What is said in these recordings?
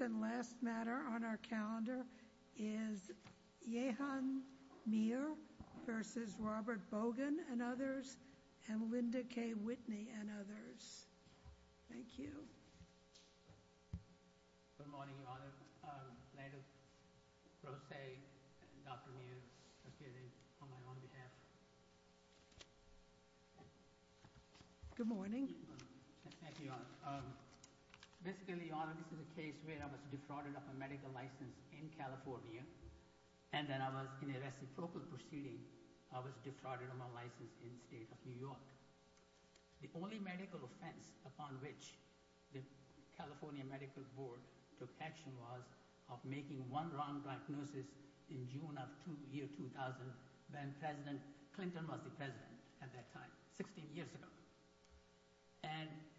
And last matter on our calendar is Yehan Mir v. Robert Bogan and others, and Linda K. Whitney and others. Thank you. Good morning, Your Honor. Landon Rosay and Dr. Mir are here on my own behalf. Good morning. Thank you, Your Honor. Basically, Your Honor, this is a case where I was defrauded of a medical license in California, and then I was in a reciprocal proceeding. I was defrauded of my license in the state of New York. The only medical offense upon which the California Medical Board took action was of making one wrong diagnosis in June of the year 2000 when President Clinton was the president at that time, 16 years ago.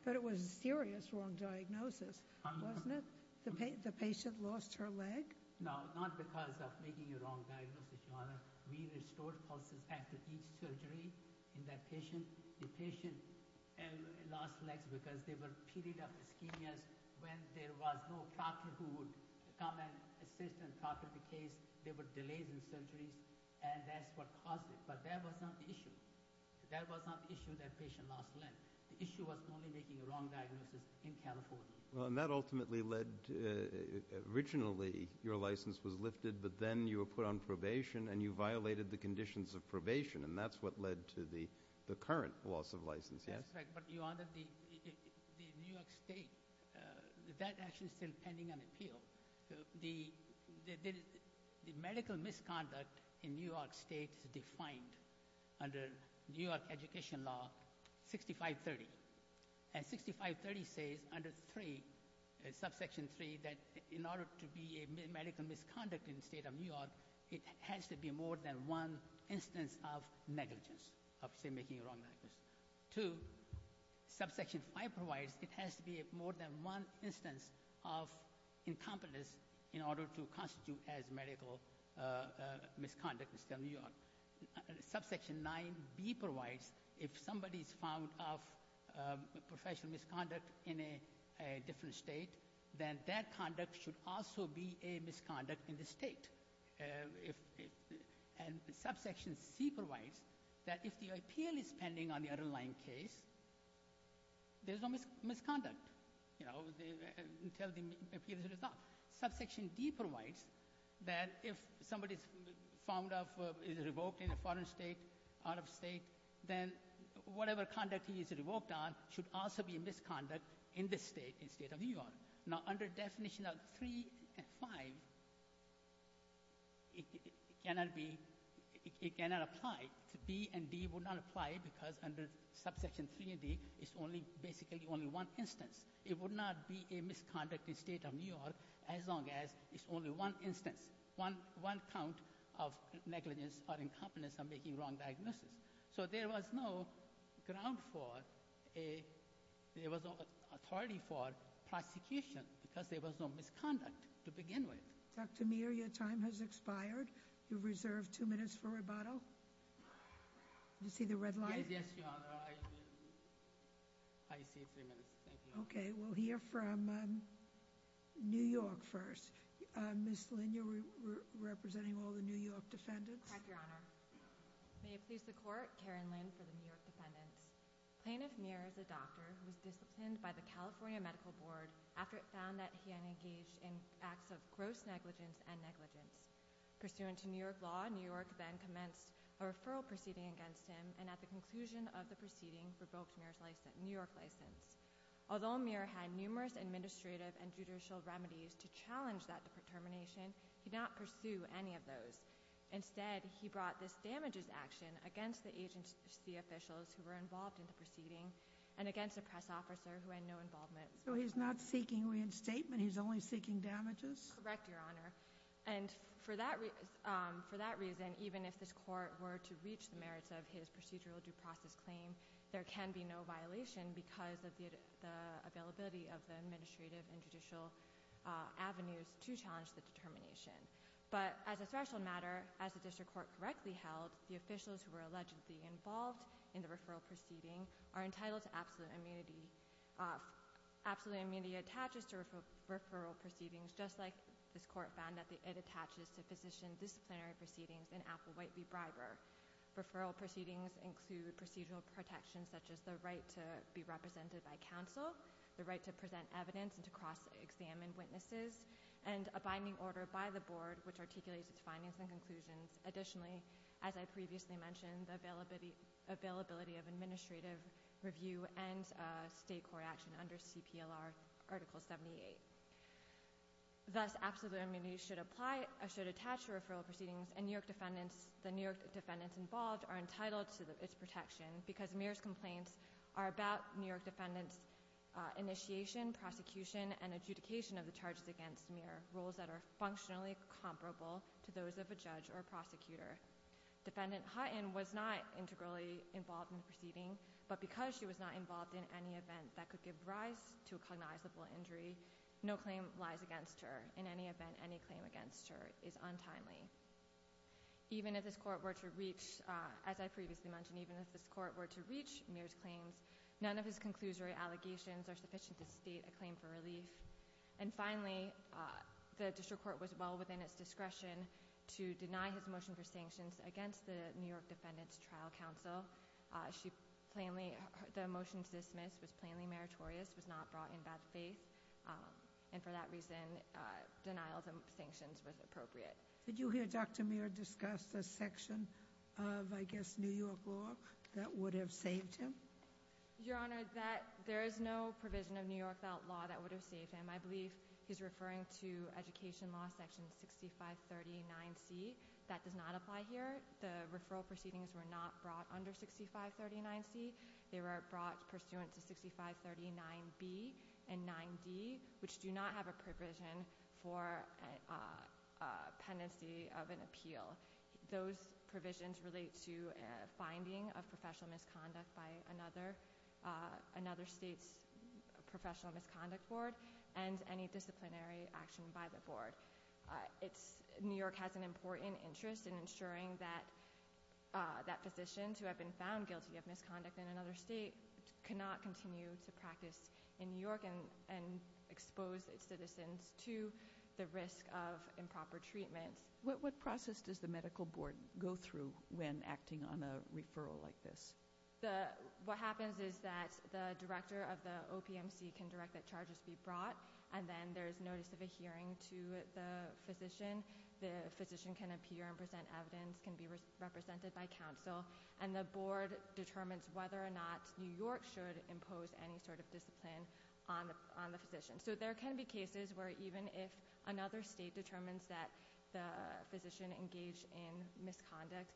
But it was a serious wrong diagnosis, wasn't it? The patient lost her leg? No, not because of making a wrong diagnosis, Your Honor. We restored pulses after each surgery in that patient. The patient lost legs because they were period of ischemia. When there was no doctor who would come and assist and talk to the case, there were delays in surgeries. And that's what caused it. But that was not the issue. That was not the issue that patient lost leg. The issue was only making a wrong diagnosis in California. Well, and that ultimately led to originally your license was lifted, but then you were put on probation, and you violated the conditions of probation, and that's what led to the current loss of license, yes? That's right. But, Your Honor, the New York State, that actually is still pending an appeal. The medical misconduct in New York State is defined under New York education law 6530. And 6530 says under 3, subsection 3, that in order to be a medical misconduct in the state of New York, it has to be more than one instance of negligence of, say, making a wrong diagnosis. 2, subsection 5 provides it has to be more than one instance of incompetence in order to constitute as medical misconduct in the state of New York. Subsection 9B provides if somebody is found of professional misconduct in a different state, then that conduct should also be a misconduct in the state. And subsection C provides that if the appeal is pending on the underlying case, there's no misconduct, you know, until the appeal is resolved. Subsection D provides that if somebody is found of, is revoked in a foreign state, out of state, then whatever conduct he is revoked on should also be a misconduct in this state, in the state of New York. Now, under definition of 3 and 5, it cannot be, it cannot apply. B and D would not apply because under subsection 3 and D, it's only basically only one instance. It would not be a misconduct in the state of New York as long as it's only one instance, one count of negligence or incompetence of making wrong diagnosis. So there was no ground for a, there was no authority for prosecution because there was no misconduct to begin with. Dr. Mir, your time has expired. You've reserved two minutes for rebuttal. Did you see the red light? Yes, Your Honor. I see three minutes. Thank you. Okay. We'll hear from New York first. Ms. Lin, you're representing all the New York defendants. Thank you, Your Honor. May it please the court, Karen Lin for the New York defendants. Plaintiff Mir is a doctor who was disciplined by the California Medical Board after it found that he had engaged in acts of gross negligence and negligence. Pursuant to New York law, New York then commenced a referral proceeding against him, and at the conclusion of the proceeding, revoked Mir's New York license. Although Mir had numerous administrative and judicial remedies to challenge that determination, he did not pursue any of those. Instead, he brought this damages action against the agency officials who were involved in the proceeding and against a press officer who had no involvement. So he's not seeking reinstatement? He's only seeking damages? Correct, Your Honor. And for that reason, even if this court were to reach the merits of his procedural due process claim, there can be no violation because of the availability of the administrative and judicial avenues to challenge the determination. But as a threshold matter, as the district court correctly held, the officials who were allegedly involved in the referral proceeding are entitled to absolute immunity. Absolute immunity attaches to referral proceedings, just like this court found that it attaches to physician disciplinary proceedings in Applewhite v. Briber. Referral proceedings include procedural protections such as the right to be represented by counsel, the right to present evidence and to cross-examine witnesses, and a binding order by the board which articulates its findings and conclusions. Additionally, as I previously mentioned, the availability of administrative review and state court action under CPLR Article 78. Thus, absolute immunity should apply or should attach to referral proceedings, and the New York defendants involved are entitled to its protection because Muir's complaints are about New York defendants' initiation, prosecution, and adjudication of the charges against Muir, rules that are functionally comparable to those of a judge or prosecutor. Defendant Hutton was not integrally involved in the proceeding, but because she was not involved in any event that could give rise to a cognizable injury, no claim lies against her. In any event, any claim against her is untimely. Even if this court were to reach, as I previously mentioned, even if this court were to reach Muir's claims, none of his conclusory allegations are sufficient to state a claim for relief. And finally, the district court was well within its discretion to deny his motion for sanctions against the New York defendants' trial counsel. The motion to dismiss was plainly meritorious, was not brought in by the faith, and for that reason, denial of sanctions was appropriate. Did you hear Dr. Muir discuss a section of, I guess, New York law that would have saved him? Your Honor, there is no provision of New York law that would have saved him. I believe he's referring to Education Law Section 6539C. That does not apply here. The referral proceedings were not brought under 6539C. They were brought pursuant to 6539B and 9D, which do not have a provision for a pendency of an appeal. Those provisions relate to a finding of professional misconduct by another state's professional misconduct board, and any disciplinary action by the board. New York has an important interest in ensuring that physicians who have been found guilty of misconduct in another state cannot continue to practice in New York and expose its citizens to the risk of improper treatments. What process does the medical board go through when acting on a referral like this? What happens is that the director of the OPMC can direct that charges be brought, and then there's notice of a hearing to the physician. The physician can appear and present evidence, can be represented by counsel, and the board determines whether or not New York should impose any sort of discipline on the physician. So there can be cases where even if another state determines that the physician engaged in misconduct,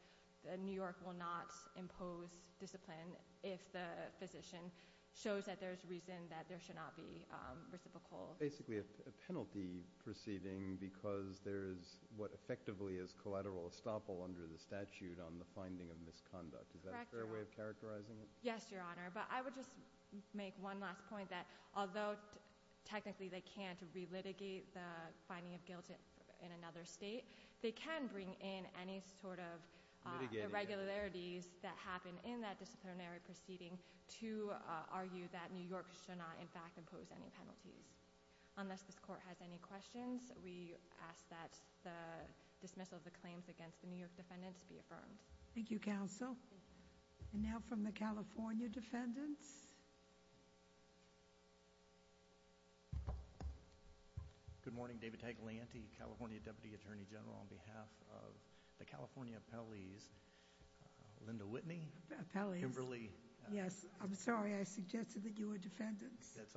New York will not impose discipline if the physician shows that there's reason that there should not be reciprocal. Basically a penalty proceeding because there is what effectively is collateral estoppel under the statute on the finding of misconduct. Is that a fair way of characterizing it? Yes, Your Honor. But I would just make one last point that although technically they can't re-litigate the finding of guilt in another state, they can bring in any sort of irregularities that happen in that disciplinary proceeding to argue that New York should not in fact impose any penalties. Unless this court has any questions, we ask that the dismissal of the claims against the New York defendants be affirmed. Thank you, counsel. And now from the California defendants. Please. Good morning. David Taglanti, California Deputy Attorney General. On behalf of the California appellees, Linda Whitney. Appellees. Kimberly. Yes. I'm sorry. I suggested that you were defendants. That's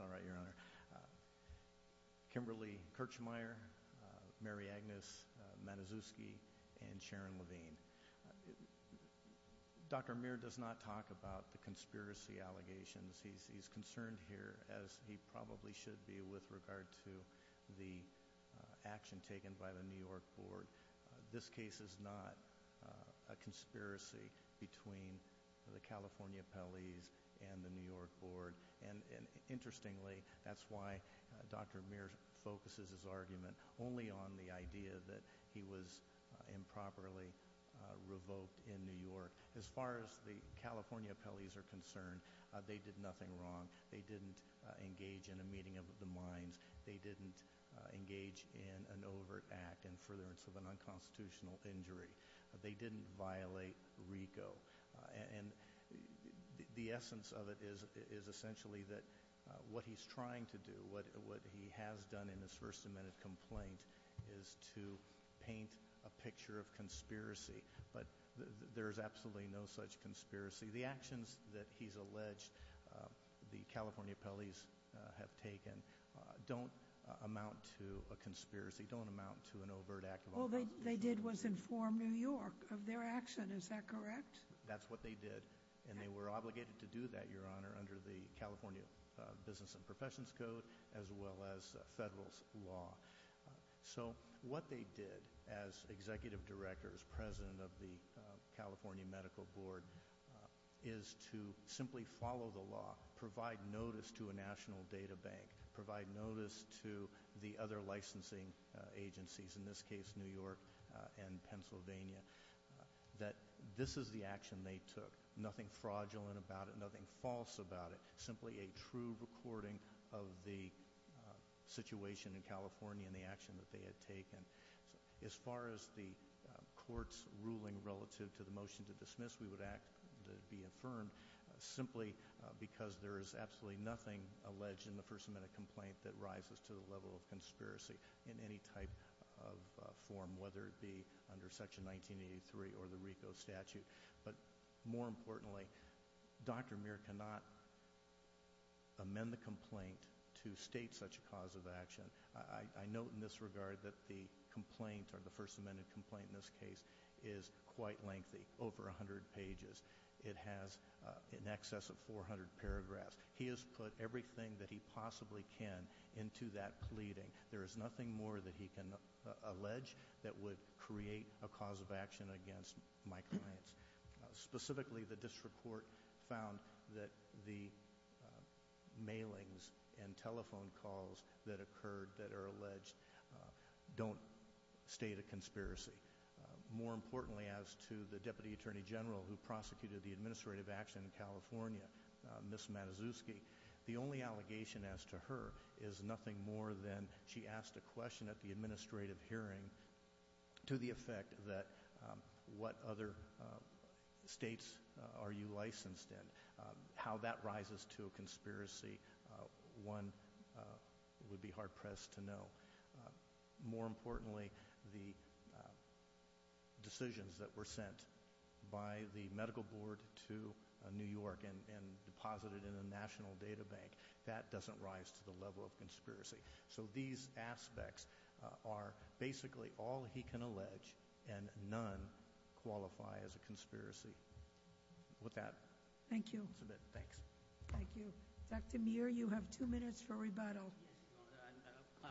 all right, Your Honor. Kimberly Kirchmeyer, Mary Agnes Matuszewski, and Sharon Levine. Dr. Muir does not talk about the conspiracy allegations. He's concerned here, as he probably should be, with regard to the action taken by the New York board. This case is not a conspiracy between the California appellees and the New York board. Interestingly, that's why Dr. Muir focuses his argument only on the idea that he was improperly revoked in New York. As far as the California appellees are concerned, they did nothing wrong. They didn't engage in a meeting of the minds. They didn't engage in an overt act in furtherance of an unconstitutional injury. They didn't violate RICO. And the essence of it is essentially that what he's trying to do, what he has done in his first amended complaint, is to paint a picture of conspiracy. But there's absolutely no such conspiracy. The actions that he's alleged the California appellees have taken don't amount to a conspiracy, don't amount to an overt act of unconstitutional injury. All they did was inform New York of their action. Is that correct? That's what they did. And they were obligated to do that, Your Honor, under the California Business and Professions Code, as well as federal law. So what they did as executive directors, president of the California Medical Board, is to simply follow the law, provide notice to a national data bank, provide notice to the other licensing agencies, in this case New York and Pennsylvania, that this is the action they took, nothing fraudulent about it, nothing false about it, simply a true recording of the situation in California and the action that they had taken. As far as the court's ruling relative to the motion to dismiss, we would act to be affirmed, simply because there is absolutely nothing alleged in the first amended complaint that rises to the level of conspiracy in any type of form, whether it be under Section 1983 or the RICO statute. But more importantly, Dr. Muir cannot amend the complaint to state such a cause of action. I note in this regard that the complaint, or the first amended complaint in this case, is quite lengthy, over 100 pages. It has in excess of 400 paragraphs. He has put everything that he possibly can into that pleading. There is nothing more that he can allege that would create a cause of action against my clients. Specifically, the district court found that the mailings and telephone calls that occurred, that are alleged, don't state a conspiracy. More importantly, as to the Deputy Attorney General who prosecuted the administrative action in California, Ms. Matuszewski, the only allegation as to her is nothing more than she asked a question at the administrative hearing to the effect that, what other states are you licensed in? How that rises to a conspiracy, one would be hard pressed to know. More importantly, the decisions that were sent by the Medical Board to New York and deposited in the National Data Bank, that doesn't rise to the level of conspiracy. So these aspects are basically all he can allege, and none qualify as a conspiracy. With that, I'll submit. Thanks. Thank you. Dr. Muir, you have two minutes for rebuttal. Yes, Your Honor.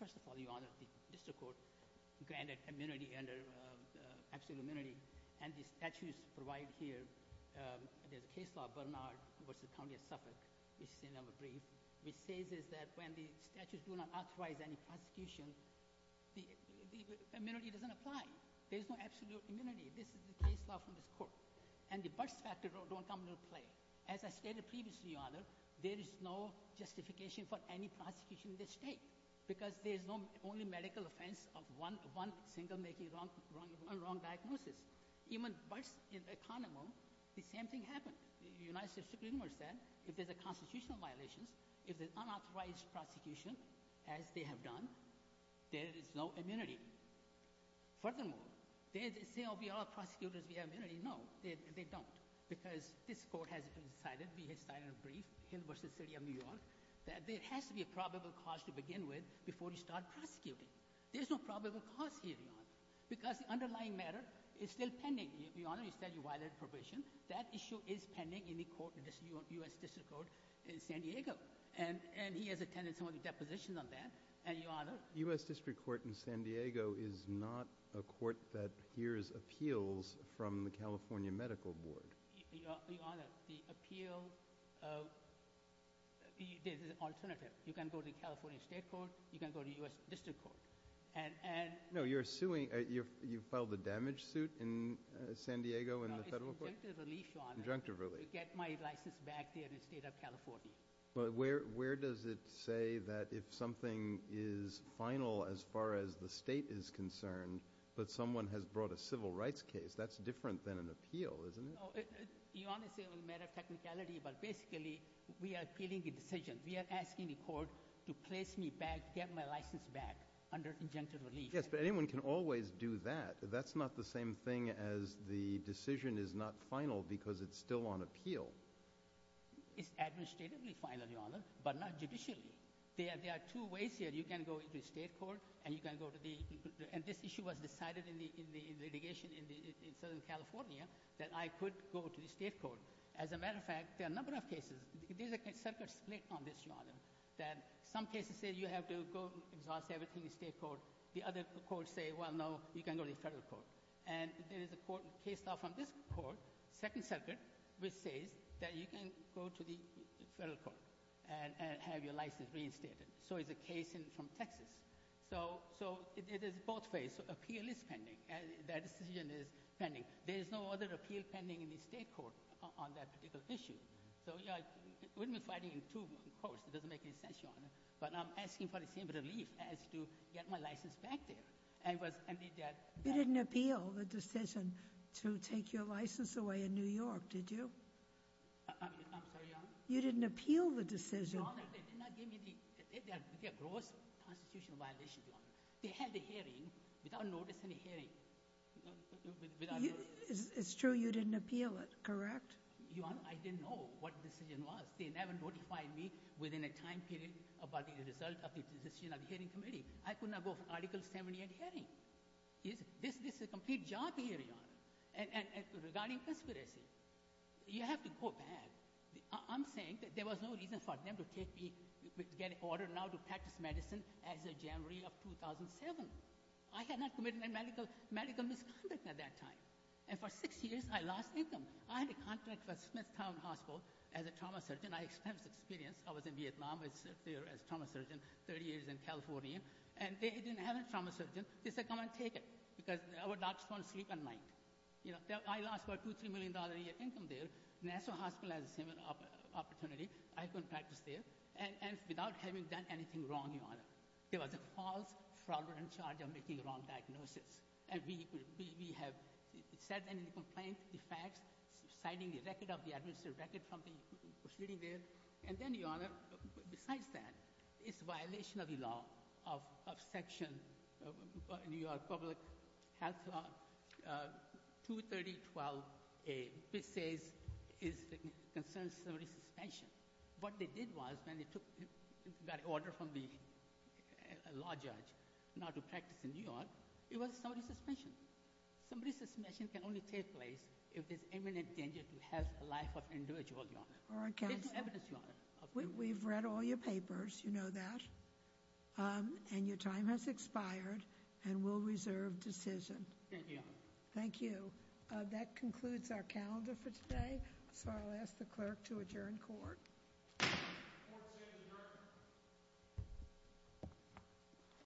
First of all, Your Honor, the district court granted immunity, absolute immunity, and the statutes provided here, there's a case law, Bernard v. County of Suffolk, which is in our brief, which says that when the statutes do not authorize any prosecution, the immunity doesn't apply. There's no absolute immunity. This is the case law from this court. And the birth factor don't come into play. As I stated previously, Your Honor, there is no justification for any prosecution in this state because there's no only medical offense of one single making wrong diagnosis. Even birth in the economy, the same thing happened. The United States Supreme Court said if there's a constitutional violation, if there's unauthorized prosecution, as they have done, there is no immunity. Furthermore, they say, oh, we are prosecutors, we have immunity. They say, no, they don't, because this court has decided, we have decided in a brief, in the University of New York, that there has to be a probable cause to begin with before you start prosecuting. There's no probable cause here, Your Honor, because the underlying matter is still pending. Your Honor, you said you violated probation. That issue is pending in the court in the U.S. District Court in San Diego. And he has attended some of the depositions on that. The U.S. District Court in San Diego is not a court that hears appeals from the California Medical Board. Your Honor, the appeal, there's an alternative. You can go to the California State Court. You can go to the U.S. District Court. No, you're suing, you filed a damage suit in San Diego in the federal court? No, it's conjunctive relief, Your Honor. Conjunctive relief. To get my license back there in the state of California. But where does it say that if something is final as far as the state is concerned, but someone has brought a civil rights case, that's different than an appeal, isn't it? Your Honor, it's a matter of technicality, but basically we are appealing a decision. We are asking the court to place me back, get my license back under conjunctive relief. Yes, but anyone can always do that. That's not the same thing as the decision is not final because it's still on appeal. It's administratively final, Your Honor, but not judicially. There are two ways here. You can go to the state court and you can go to the – and this issue was decided in the litigation in Southern California that I could go to the state court. As a matter of fact, there are a number of cases. There's a separate split on this, Your Honor, that some cases say you have to go exhaust everything in the state court. The other courts say, well, no, you can go to the federal court. And there is a court case now from this court, Second Circuit, which says that you can go to the federal court and have your license reinstated. So it's a case from Texas. So it is both ways. Appeal is pending. That decision is pending. There is no other appeal pending in the state court on that particular issue. So we've been fighting in two courts. It doesn't make any sense, Your Honor. But I'm asking for the same relief as to get my license back there. You didn't appeal the decision to take your license away in New York, did you? I'm sorry, Your Honor? You didn't appeal the decision. Your Honor, they did not give me the – it's a gross constitutional violation, Your Honor. They had the hearing without notice in the hearing. It's true you didn't appeal it, correct? Your Honor, I didn't know what the decision was. They never notified me within a time period about the result of the decision of the hearing committee. I could not go for Article 70 of the hearing. This is a complete job here, Your Honor, regarding conspiracy. You have to go back. I'm saying that there was no reason for them to take me, get an order now to practice medicine as of January of 2007. I had not committed a medical misconduct at that time. And for six years, I lost income. I had a contract with Smithtown Hospital as a trauma surgeon. I experienced experience. I was in Vietnam. I served there as a trauma surgeon 30 years in California. And they didn't have a trauma surgeon. They said, come and take it because our doctors want to sleep at night. You know, I lost about $2 million, $3 million a year income there. National Hospital has the same opportunity. I couldn't practice there. And without having done anything wrong, Your Honor, there was a false fraudulent charge of making the wrong diagnosis. And we have said in the complaint the facts, citing the record of the administrative record from the proceeding there. And then, Your Honor, besides that, it's a violation of the law, of Section New York Public Health Law 23012A, which says it concerns summary suspension. What they did was when they took that order from the law judge not to practice in New York, it was summary suspension. Summary suspension can only take place if there's imminent danger to health and life of an individual, Your Honor. It's evidence, Your Honor. We've read all your papers. You know that. And your time has expired. And we'll reserve decision. Thank you, Your Honor. Thank you. That concludes our calendar for today. So I'll ask the clerk to adjourn court. Court is adjourned.